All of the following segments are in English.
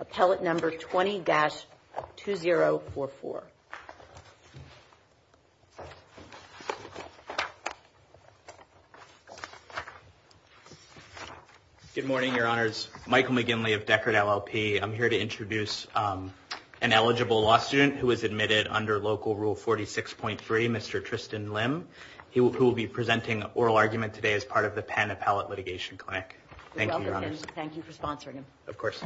appellate number 20-2044. Good morning, Your Honors. Michael McGinley of Deckard LLP. I'm here to introduce an eligible law student who was admitted under local rule 46.3, Mr. Tristan Lim, who will be presenting oral argument today as part of the Penn Appellate Litigation Clinic. Thank you, Your Honors. Thank you for sponsoring him. Of course.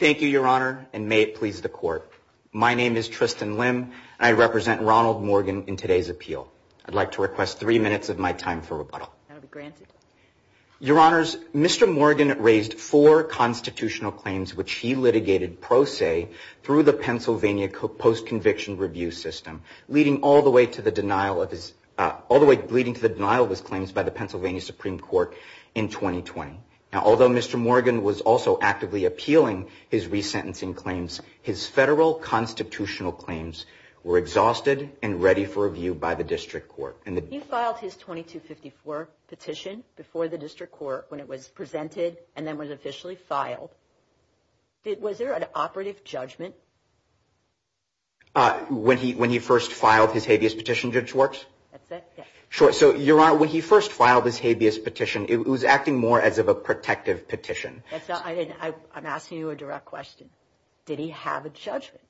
Thank you, Your Honor, and may it please the Court. My name is Tristan Lim, and I represent Ronald Morgan in today's appeal. I'd like to request three minutes of my time for rebuttal. Your Honors, Mr. Morgan raised four constitutional claims which he litigated pro se through the Pennsylvania Post-Conviction Review System, leading all the way to the denial of his claims by the Pennsylvania Supreme Court in 2020. Now, although Mr. Morgan was also actively appealing his resentencing claims, his federal constitutional claims were exhausted and ready for review by the district court. He filed his 2254. petition before the district court when it was presented and then was officially filed. Was there an operative judgment? When he first filed his habeas petition, Judge Warks? That's it, yes. Sure. So, Your Honor, when he first filed his habeas petition, it was acting more as of a protective petition. That's not, I'm asking you a direct question. Did he have a judgment?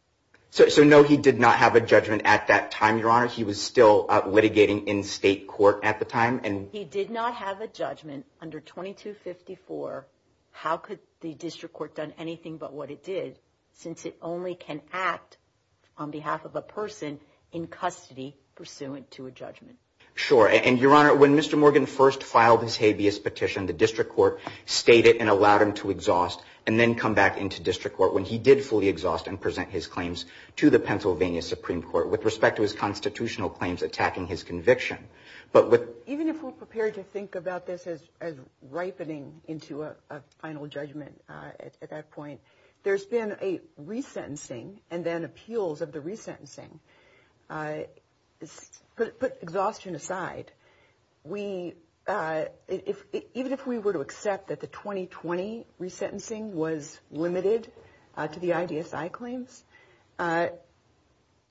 So, no, he did not have a judgment at that time, Your Honor. He was still litigating in state court at the time. He did not have a judgment under 2254. How could the district court have done anything but what it did since it only can act on behalf of a person in custody pursuant to a judgment? Sure. And, Your Honor, when Mr. Morgan first filed his habeas petition, the district court stated and allowed him to exhaust and then come back into district court when he did fully exhaust and present his claim. So, Your Honor, when Mr. Morgan first filed his habeas petition, the district court stated and allowed him to exhaust and then come back into district court when he did fully exhaust and present his claims to the Pennsylvania Supreme Court with respect to his constitutional claims attacking his conviction. But with... Even if we're prepared to think about this as ripening into a final judgment at that point, there's been a resentencing and then appeals of the resentencing. Put exhaustion aside, we, even if we were to accept that the 2020 resentencing was limited to the IDSI claims, there's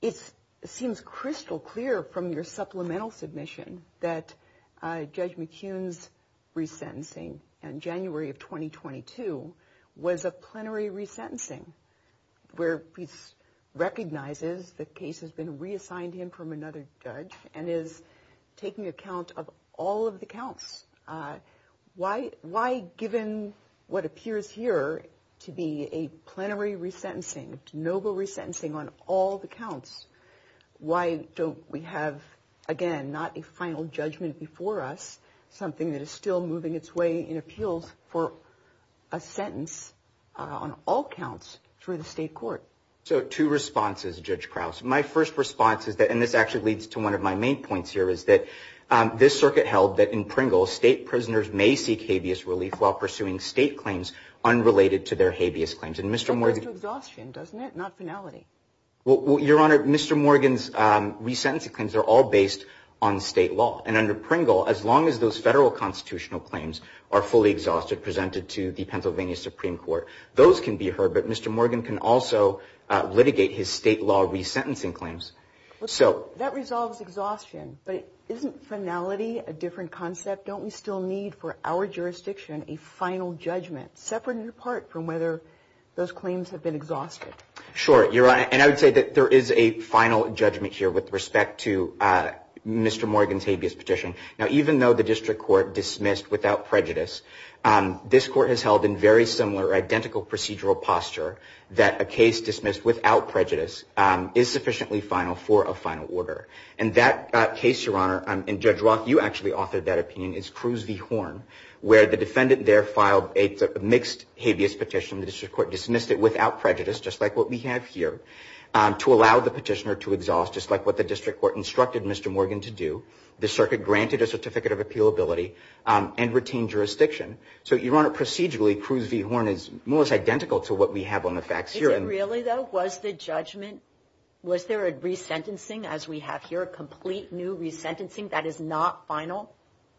been a resentencing and then appeals of the resentencing. It seems crystal clear from your supplemental submission that Judge McKeon's resentencing in January of 2022 was a plenary resentencing where he recognizes the case has been reassigned him from another judge and is taking account of all of the counts. Why, given what appears here to be a plenary resentencing, de novo resentencing on all the counts, why don't we have, again, not a final judgment before us, something that is still moving its way in appeals for a sentence on all counts through the state court? So, two responses, Judge Krause. My first response is that, and this actually leads to one of my main points here, is that this circuit held that in Pringle, state prisoners may seek habeas relief while pursuing state claims unrelated to their habeas claims. And Mr. Morgan... Well, Your Honor, Mr. Morgan's resentencing claims are all based on state law. And under Pringle, as long as those federal constitutional claims are fully exhausted, presented to the Pennsylvania Supreme Court, those can be heard. But Mr. Morgan can also litigate his state law resentencing claims. That resolves exhaustion. But isn't finality a different concept? Don't we still need, for our jurisdiction, a final judgment, separate and apart from whether those claims have been exhausted? Sure, Your Honor. And I would say that there is a final judgment here with respect to Mr. Morgan's habeas petition. Now, even though the district court dismissed without prejudice, this court has held in very similar, identical procedural postures. That a case dismissed without prejudice is sufficiently final for a final order. And that case, Your Honor, and Judge Roth, you actually authored that opinion, is Cruz v. Horn, where the defendant there filed a mixed habeas petition. The district court dismissed it without prejudice, just like what we have here, to allow the petitioner to exhaust, just like what the district court instructed Mr. Morgan to do. The circuit granted a certificate of appealability and retained jurisdiction. So, Your Honor, procedurally, Cruz v. Horn is almost identical to what we have on the facts here. Is it really, though? Was the judgment, was there a resentencing, as we have here, a complete new resentencing that is not final?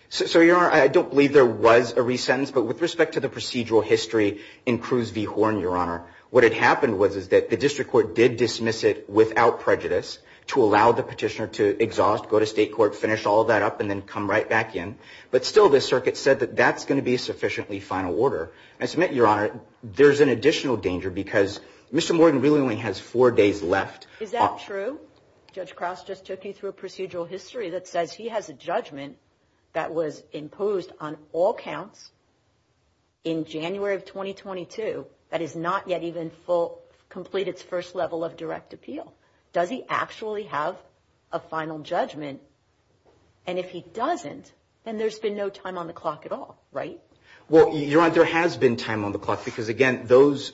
So, Your Honor, I don't believe there was a resentence, but with respect to the procedural history in Cruz v. Horn, Your Honor, what had happened was that the district court did dismiss it without prejudice to allow the petitioner to exhaust, go to state court, finish all that up, and then come right back in. But still, the circuit said that that's going to be sufficiently final order. And I submit, Your Honor, there's an additional danger, because Mr. Morgan really only has four days left. Is that true? Judge Crouse just took you through a procedural history that says he has a judgment that was imposed on all counts in January of 2022, that is not yet even complete its first level of direct appeal. Does he actually have a final judgment? And if he doesn't, then there's been no time on the clock at all, right? Well, Your Honor, there has been time on the clock, because again, those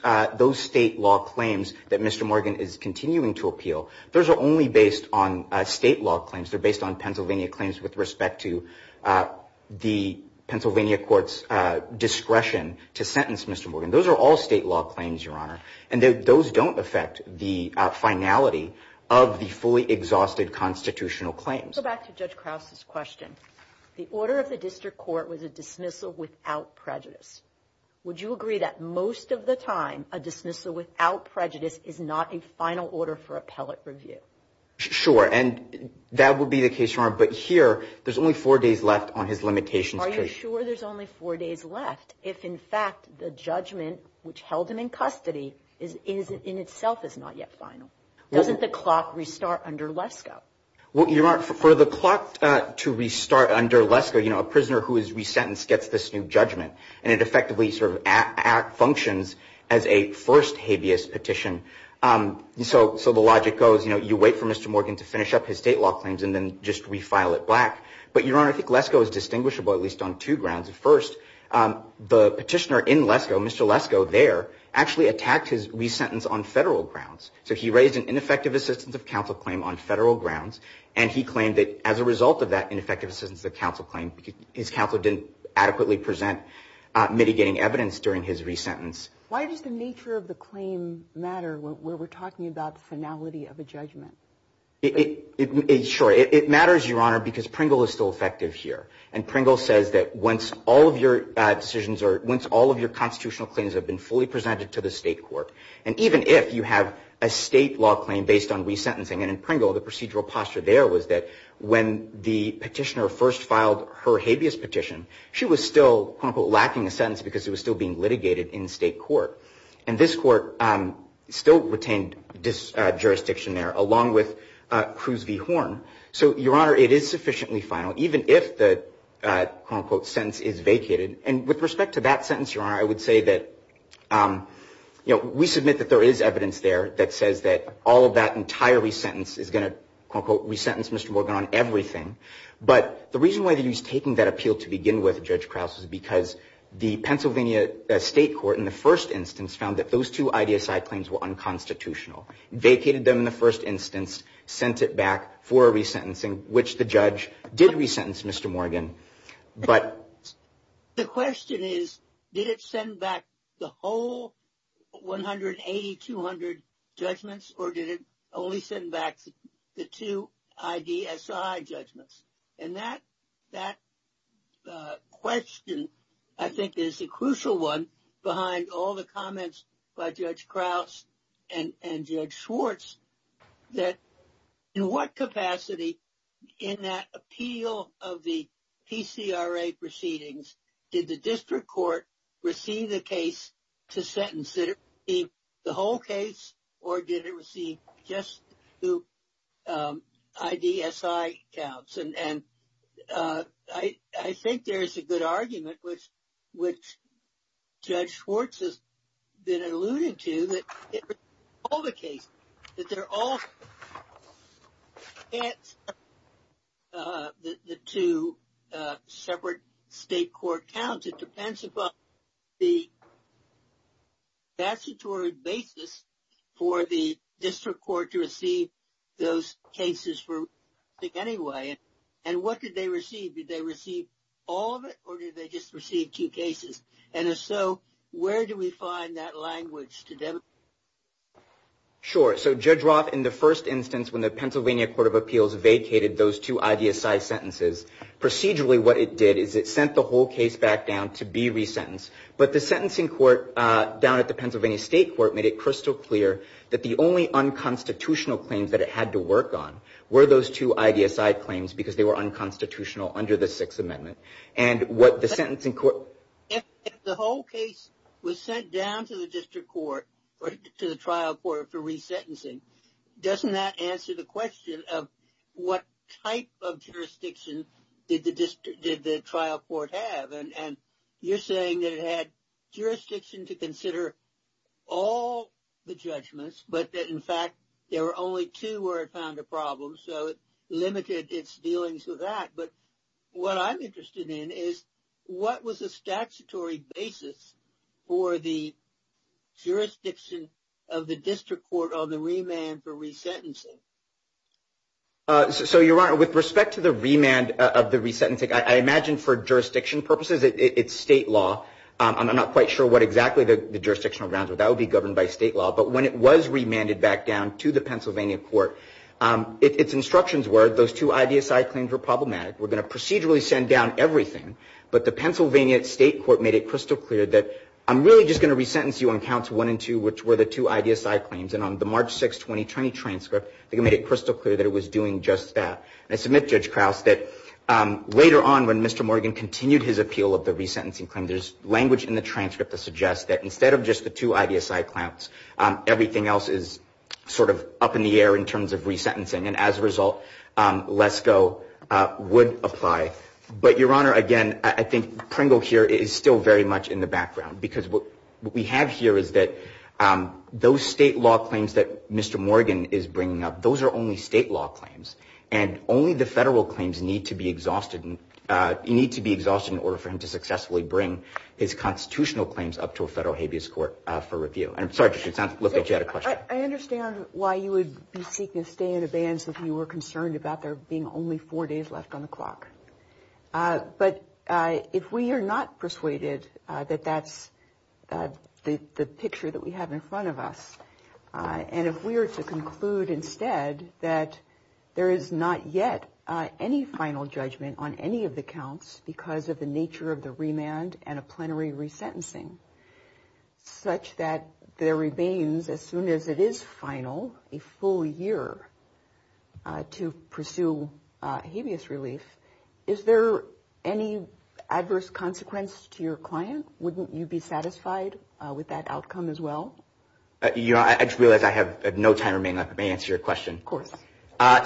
state law claims that Mr. Morgan is continuing to appeal, those are only based on state law claims. They're based on Pennsylvania claims with respect to the Pennsylvania court's discretion to sentence Mr. Morgan. Those are all state law claims, Your Honor, and those don't affect the finality of the fully exhausted constitutional claims. Let's go back to Judge Crouse's question. The order of the district court was a dismissal without prejudice. Would you agree that most of the time a dismissal without prejudice is not a final order for appellate review? Sure, and that would be the case, Your Honor, but here, there's only four days left on his limitations case. Are you sure there's only four days left if, in fact, the judgment which held him in custody in itself is not yet final? Well, the clock to restart under Lesko, you know, a prisoner who is resentenced gets this new judgment, and it effectively sort of functions as a first habeas petition. So the logic goes, you know, you wait for Mr. Morgan to finish up his state law claims and then just refile it black. But, Your Honor, I think Lesko is distinguishable at least on two grounds. First, the petitioner in Lesko, Mr. Lesko there, actually attacked his resentence on federal grounds. So he raised an ineffective assistance of counsel claim on federal grounds, and he claimed that as a result of that ineffective assistance of counsel claim, his counsel didn't adequately present mitigating evidence during his resentence. Why does the nature of the claim matter when we're talking about the finality of a judgment? Sure, it matters, Your Honor, because Pringle is still effective here, and Pringle says that once all of your decisions or once all of your decisions are made, there is a state law claim based on resentencing, and in Pringle, the procedural posture there was that when the petitioner first filed her habeas petition, she was still, quote-unquote, lacking a sentence because it was still being litigated in state court. And this court still retained jurisdiction there, along with Cruz v. Horn. So, Your Honor, it is sufficiently final, even if the, quote-unquote, sentence is vacated. And with respect to that sentence, Your Honor, I would say that, you know, we submit that there is evidence there that says that the judge says that all of that entire resentence is going to, quote-unquote, resentence Mr. Morgan on everything. But the reason why they used taking that appeal to begin with, Judge Krause, is because the Pennsylvania State Court in the first instance found that those two IDSI claims were unconstitutional, vacated them in the first instance, sent it back for a resentencing, which the judge did resentence Mr. Morgan, but... did it only send back two judgments or did it only send back the two IDSI judgments? And that question, I think, is a crucial one behind all the comments by Judge Krause and Judge Schwartz, that in what capacity in that appeal of the PCRA proceedings did the district court receive the case to sentence it? Did it receive the whole case or did it receive just two IDSI counts? And I think there is a good argument, which Judge Schwartz has been alluding to, that it was all the case, that they're all... the two separate state court counts. It depends upon the statutory basis for the district court to receive those cases for resentence anyway. And what did they receive? Did they receive all of it or did they just receive two cases? And if so, where do we find that language to demonstrate that? Sure. So Judge Roth, in the first instance when the Pennsylvania Court of Appeals vacated those two IDSI sentences, procedurally what it did is it sent the whole case back down to be resentenced, but the sentencing court down at the Pennsylvania State Court made it crystal clear that the only unconstitutional claims that it had to work on were those two IDSI claims because they were unconstitutional under the Sixth Amendment. And what the sentencing court... If the whole case was sent down to the district court, to the trial court for resentencing, doesn't that answer the question of what type of trial court have? And you're saying that it had jurisdiction to consider all the judgments, but that in fact there were only two where it found a problem, so it limited its dealings with that. But what I'm interested in is what was the statutory basis for the jurisdiction of the district court on the remand for resentencing? So, Your Honor, with respect to the remand of the resentencing, I imagine for jurisdiction purposes it's state law. I'm not quite sure what exactly the jurisdictional grounds, but that would be governed by state law. But when it was remanded back down to the Pennsylvania Court, its instructions were those two IDSI claims were problematic. We're going to procedurally send down everything, but the Pennsylvania State Court made it crystal clear that I'm really just going to resentence you on counts one and two, which were the two IDSI claims. And on the March 6, 2020 transcript, they made it crystal clear that it was doing just that. And I submit, Judge Krause, that later on when Mr. Morgan continued his appeal of the resentencing claim, there's language in the transcript that suggests that instead of just the two IDSI counts, everything else is sort of up in the air in terms of resentencing. And as a result, LESCO would apply. But, Your Honor, again, I think Pringle here is still very much in the background, because what we have here is that those state law claims that Mr. Morgan is bringing up, those are only state law claims. And only the federal claims need to be exhausted in order for him to successfully bring his constitutional claims up to a federal habeas court for review. And I'm sorry, Judge, it sounds like you had a question. I understand why you would be seeking to stay in abeyance if you were concerned about there being only four days left on the clock. But if we are not persuaded that that's the picture that we have in front of us, I'm not sure that we're going to be able to do that. And if we are to conclude instead that there is not yet any final judgment on any of the counts because of the nature of the remand and a plenary resentencing, such that there remains, as soon as it is final, a full year to pursue habeas relief, is there any adverse consequence to your client? Wouldn't you be satisfied with that outcome as well? I just realized I have no time remaining. May I answer your question? Of course.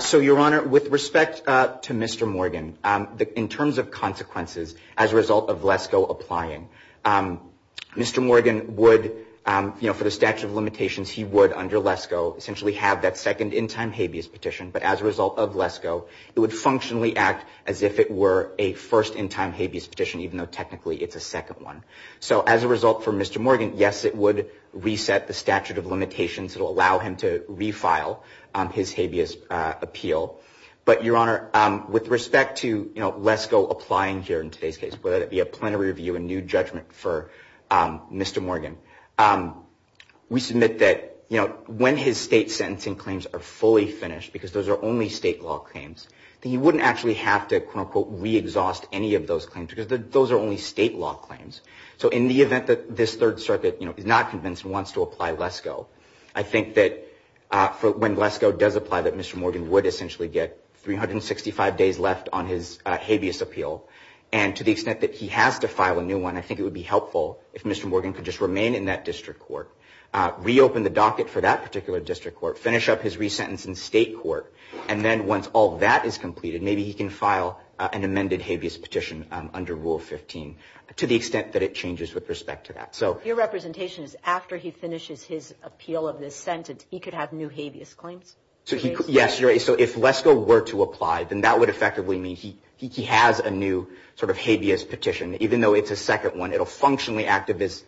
So, Your Honor, with respect to Mr. Morgan, in terms of consequences as a result of LESCO applying, Mr. Morgan would, for the statute of limitations, he would, under LESCO, essentially have that second in-time habeas petition. But as a result of LESCO, it would functionally act as if it were a first in-time habeas petition, even though technically it's a second one. So, as a result for Mr. Morgan, yes, it would reset the statute of limitations that will allow him to refile his habeas appeal. But, Your Honor, with respect to LESCO applying here in today's case, whether it be a plenary review, a new judgment for Mr. Morgan, we submit that when his state sentencing claims are fully finished, because those are only state law claims, that he wouldn't actually have to, quote-unquote, re-exhaust any of those claims, because those are only state law claims. So, in the event that this Third Circuit is not convinced and wants to apply LESCO, I think that when LESCO does apply, that Mr. Morgan would essentially get 365 days left on his habeas appeal, and to the extent that he has to file a new one, I think it would be helpful if Mr. Morgan could just remain in that district court, reopen the docket for that particular district court, finish up his resentencing state court, and then once all that is completed, maybe he can file an amended habeas petition under LESCO. So, I think that would be helpful if Mr. Morgan could just remain in that district court, reopen the docket for that particular district court, and then once all that is completed, maybe he can file an amended habeas petition under Rule 15, to the extent that it changes with respect to that. So... Your representation is after he finishes his appeal of this sentence, he could have new habeas claims? Yes, Your Honor, so if LESCO were to apply, then that would effectively mean he has a new sort of habeas petition, even though it's a second one, it will functionally act as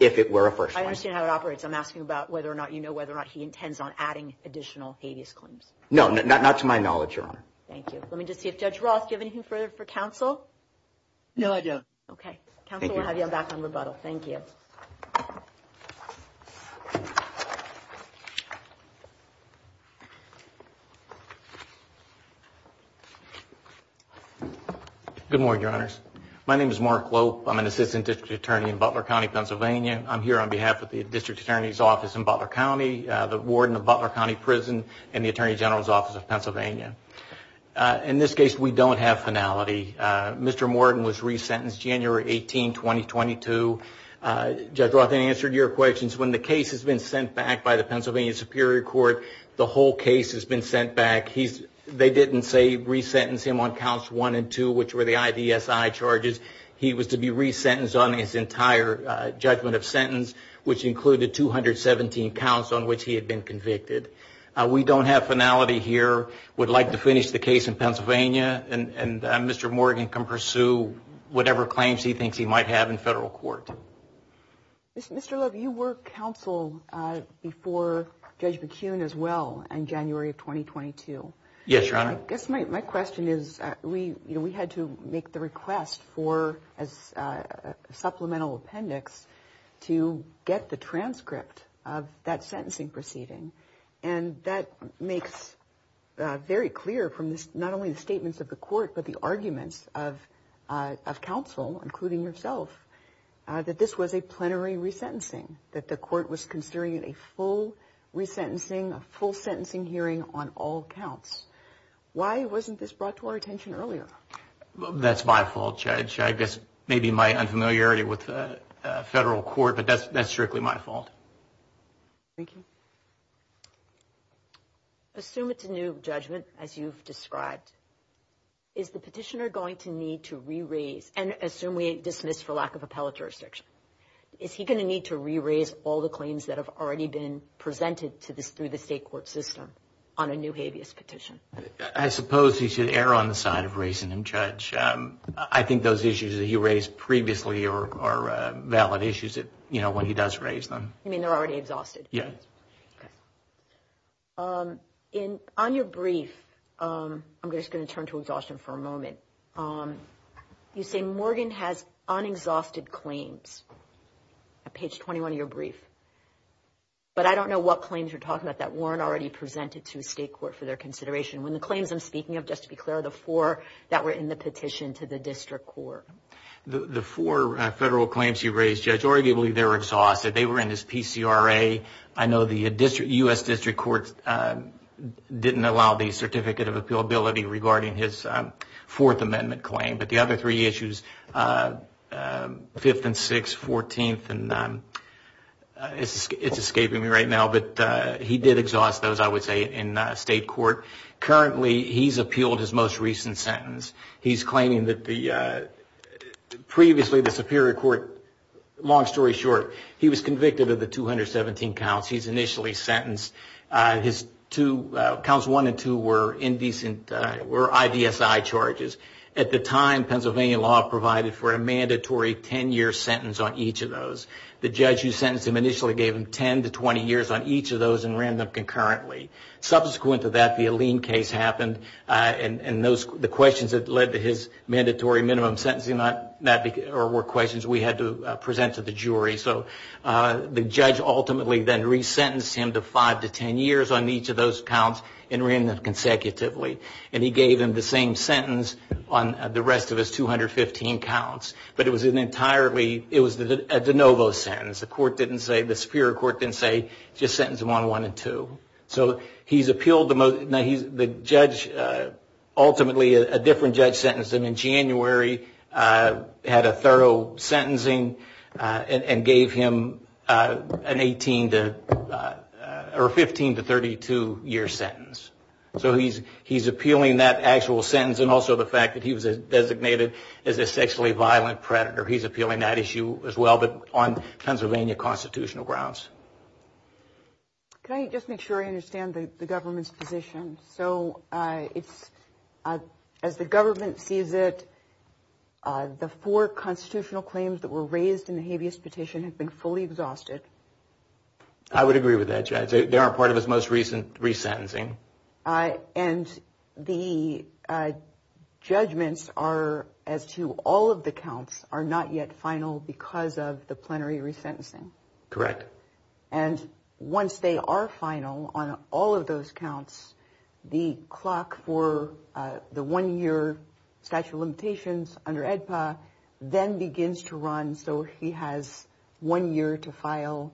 if it were a first one. I understand how it operates, I'm asking about whether or not you know whether or not he intends on adding additional habeas claims. No, not to my knowledge, Your Honor. No, I don't. Okay, counsel will have you back on rebuttal, thank you. Good morning, Your Honors, my name is Mark Lope, I'm an Assistant District Attorney in Butler County, Pennsylvania. I'm here on behalf of the District Attorney's Office in Butler County, the Warden of Butler County Prison, and the Attorney General's Office of Pennsylvania. In this case, we don't have finality. Mr. Morton was re-sentenced January 18, 2022. Judge Rothen answered your questions, when the case has been sent back by the Pennsylvania Superior Court, the whole case has been sent back. They didn't say re-sentence him on counts one and two, which were the IDSI charges, he was to be re-sentenced on his entire judgment of sentence, which included 217 counts on which he had been convicted. We don't have finality here, would like to finish the case in Pennsylvania, and Mr. Morgan can pursue whatever claims he thinks he might have in federal court. Mr. Lope, you were counsel before Judge McKeon as well in January of 2022. Yes, Your Honor. I guess my question is, we had to make the request for a supplemental appendix to get the transcript of that sentencing proceeding. And that makes very clear from not only the statements of the court, but the arguments of counsel, including yourself, that this was a plenary re-sentencing. That the court was considering a full re-sentencing, a full sentencing hearing on all counts. Why wasn't this brought to our attention earlier? That's my fault, Judge. I guess maybe my unfamiliarity with federal court, but that's strictly my fault. Assume it's a new judgment, as you've described, is the petitioner going to need to re-raise, and assume we dismiss for lack of appellate jurisdiction, is he going to need to re-raise all the claims that have already been presented through the state court system on a new habeas petition? I suppose he should err on the side of raising them, Judge. I think those issues that he raised previously are valid issues when he does raise them. On your brief, I'm just going to turn to exhaustion for a moment. You say Morgan has unexhausted claims, on page 21 of your brief. But I don't know what claims you're talking about that weren't already presented to the state court for their consideration. When the claims I'm speaking of, just to be clear, are the four that were in the petition to the district court. The four federal claims you raised, Judge, arguably they were exhausted. They were in his PCRA. I know the U.S. District Court didn't allow the certificate of appealability regarding his Fourth Amendment claim. But the other three issues, Fifth and Sixth, Fourteenth, it's escaping me right now, but he did exhaust those, I would say, in state court. Currently, he's appealed his most recent sentence. He's claiming that previously the Superior Court, long story short, he was convicted of the 217 counts. He's initially sentenced, counts one and two were indecent, were IDSI charges. At the time, Pennsylvania law provided for a mandatory 10-year sentence on each of those. The judge who sentenced him initially gave him 10 to 20 years on each of those and ran them concurrently. Subsequent to that, the Aleem case happened, and the questions that led to his mandatory minimum sentencing were questions we had to present to the jury. So the judge ultimately then resentenced him to five to 10 years on each of those counts and ran them consecutively. And he gave him the same sentence on the rest of his 215 counts. But it was an entirely, it was a de novo sentence. The court didn't say, the Superior Court didn't say, just sentence him on one and two. So he's appealed, the judge ultimately, a different judge sentenced him in January, had a thorough sentencing, and gave him an 18 to, or 15 to 32 year sentence. So he's appealing that actual sentence and also the fact that he was designated as a sexually violent predator. He's appealing that issue as well, but on Pennsylvania constitutional grounds. Can I just make sure I understand the government's position? So it's, as the government sees it, the four constitutional claims that were raised in the habeas petition have been fully exhausted? I would agree with that, Judge. They aren't part of his most recent resentencing. And the judgments are, as to all of the counts, are not yet final because of the plenary resentencing? Correct. And once they are final on all of those counts, the clock for the one year statute of limitations under AEDPA then begins to run. And so he has one year to file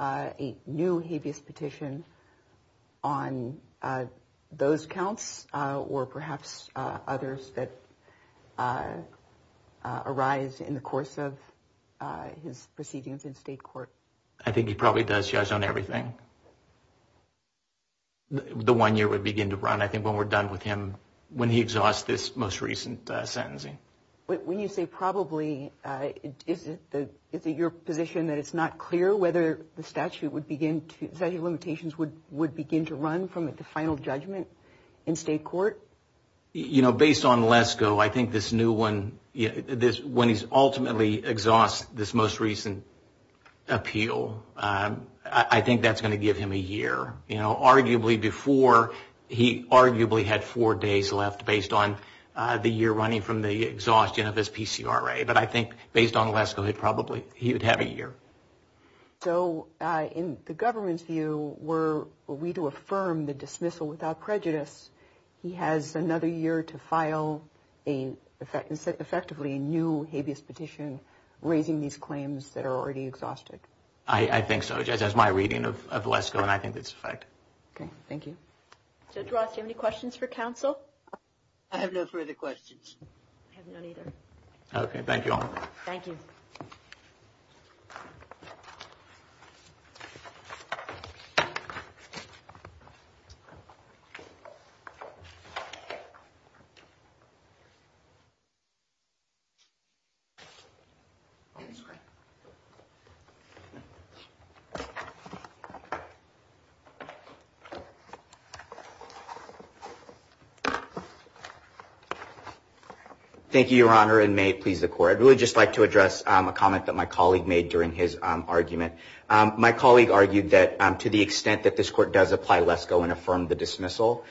a new habeas petition on those counts, or perhaps others that arise in the course of his proceedings in state court? I think he probably does judge on everything. The one year would begin to run, I think, when we're done with him, when he exhausts this most recent sentencing. Is it your position that it's not clear whether the statute of limitations would begin to run from the final judgment in state court? You know, based on LESCO, I think this new one, when he's ultimately exhausts this most recent appeal, I think that's going to give him a year. Arguably before, he arguably had four days left based on the year running from the exhaustion of his PCRA. But I think based on LESCO, he'd probably, he would have a year. So in the government's view, were we to affirm the dismissal without prejudice, he has another year to file, effectively, a new habeas petition, raising these claims that are already exhausted? I think so, just as my reading of LESCO, and I think that's the fact. Judge Ross, do you have any questions for counsel? Thank you, Your Honor. Thank you, Your Honor, and may it please the Court. I'd really just like to address a comment that my colleague made during his argument. My colleague argued that to the extent that this Court does apply LESCO and affirm the dismissal,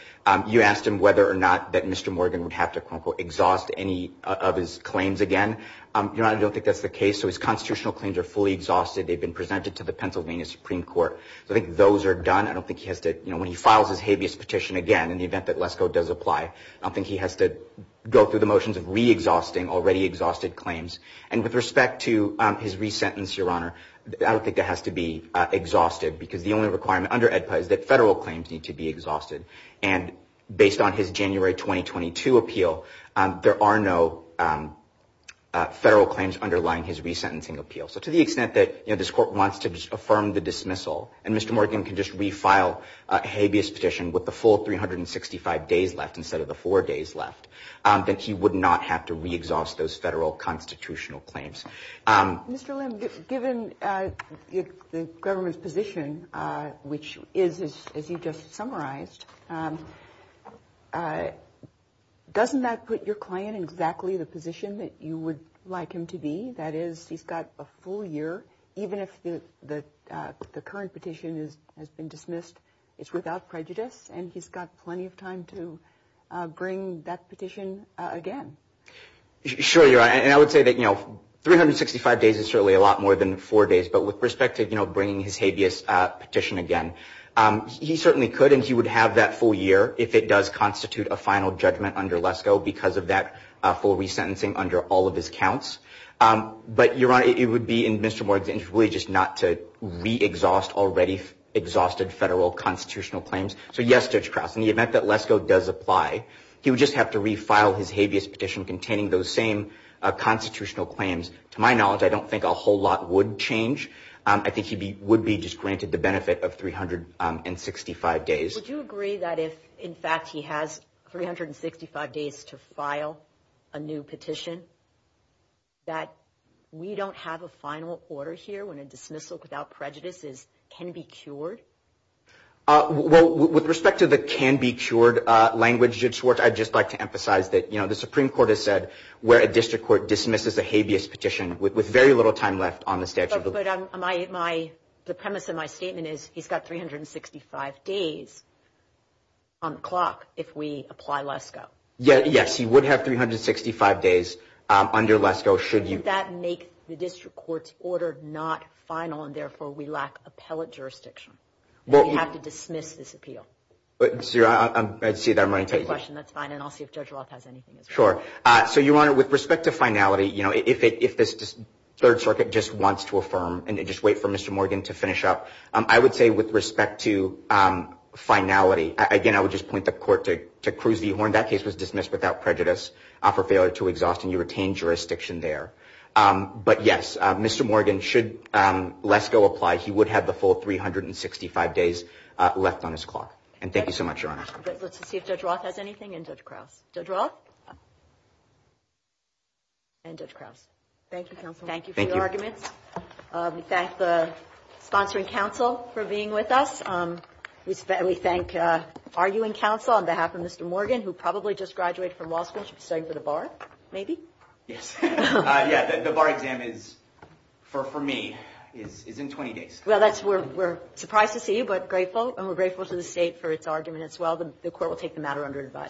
you asked him whether or not that Mr. Morgan would have to exhaust any of his claims again. Your Honor, I don't think that's the case. So his constitutional claims are fully exhausted. They've been presented to the Pennsylvania Supreme Court. I think those are done. I don't think he has to, you know, when he files his habeas petition again, in the event that LESCO does apply, I don't think he has to go through the motions of re-exhausting already exhausted claims. And with respect to his re-sentence, Your Honor, I don't think that has to be exhausted, because the only requirement under AEDPA is that federal claims need to be exhausted. And based on his January 2022 appeal, there are no, I don't think that's the case. There are no federal claims underlying his re-sentencing appeal. So to the extent that this Court wants to just affirm the dismissal, and Mr. Morgan can just refile a habeas petition with the full 365 days left instead of the four days left, that he would not have to re-exhaust those federal constitutional claims. Mr. Lim, given the government's position, which is, as you just summarized, doesn't that put your client in exactly the position that you would like him to be in? That is, he's got a full year, even if the current petition has been dismissed, it's without prejudice, and he's got plenty of time to bring that petition again. Sure, Your Honor, and I would say that, you know, 365 days is certainly a lot more than four days, but with respect to, you know, bringing his habeas petition again, he certainly could, and he would have that full year if it does constitute a final judgment under LESCO, because of that full re-sentencing under all of his counts. But, Your Honor, it would be in Mr. Morgan's interest really just not to re-exhaust already exhausted federal constitutional claims. So yes, Judge Krause, in the event that LESCO does apply, he would just have to re-file his habeas petition containing those same constitutional claims. To my knowledge, I don't think a whole lot would change. I think he would be just granted the benefit of 365 days. Would you agree that if, in fact, he has 365 days to file a new petition? That we don't have a final order here when a dismissal without prejudice can be cured? Well, with respect to the can-be-cured language, Judge Schwartz, I'd just like to emphasize that, you know, the Supreme Court has said where a district court dismisses a habeas petition with very little time left on the statute. But the premise of my statement is he's got 365 days on the clock if we apply LESCO. Yes, he would have 365 days under LESCO should you... Would that make the district court's order not final and therefore we lack appellate jurisdiction? Would we have to dismiss this appeal? That's a great question. That's fine. And I'll see if Judge Roth has anything as well. Sure. So, Your Honor, with respect to finality, you know, if this Third Circuit just wants to affirm and just wait for Mr. Morgan to finish up, I would say with respect to finality, again, I would just point the Court to Cruz v. Horn. That case was dismissed without prejudice for failure to exhaust and you retained jurisdiction there. But, yes, Mr. Morgan, should LESCO apply, he would have the full 365 days left on his clock. And thank you so much, Your Honor. Let's see if Judge Roth has anything and Judge Krause. Judge Roth? And Judge Krause. Thank you, Counsel. And thank you for your arguments. We thank the sponsoring counsel for being with us. We thank arguing counsel on behalf of Mr. Morgan, who probably just graduated from law school and should be studying for the bar, maybe? Yes. Yeah, the bar exam is, for me, is in 20 days. Well, we're surprised to see you, but grateful. And we're grateful to the State for its argument as well. The Court will take the matter under advice.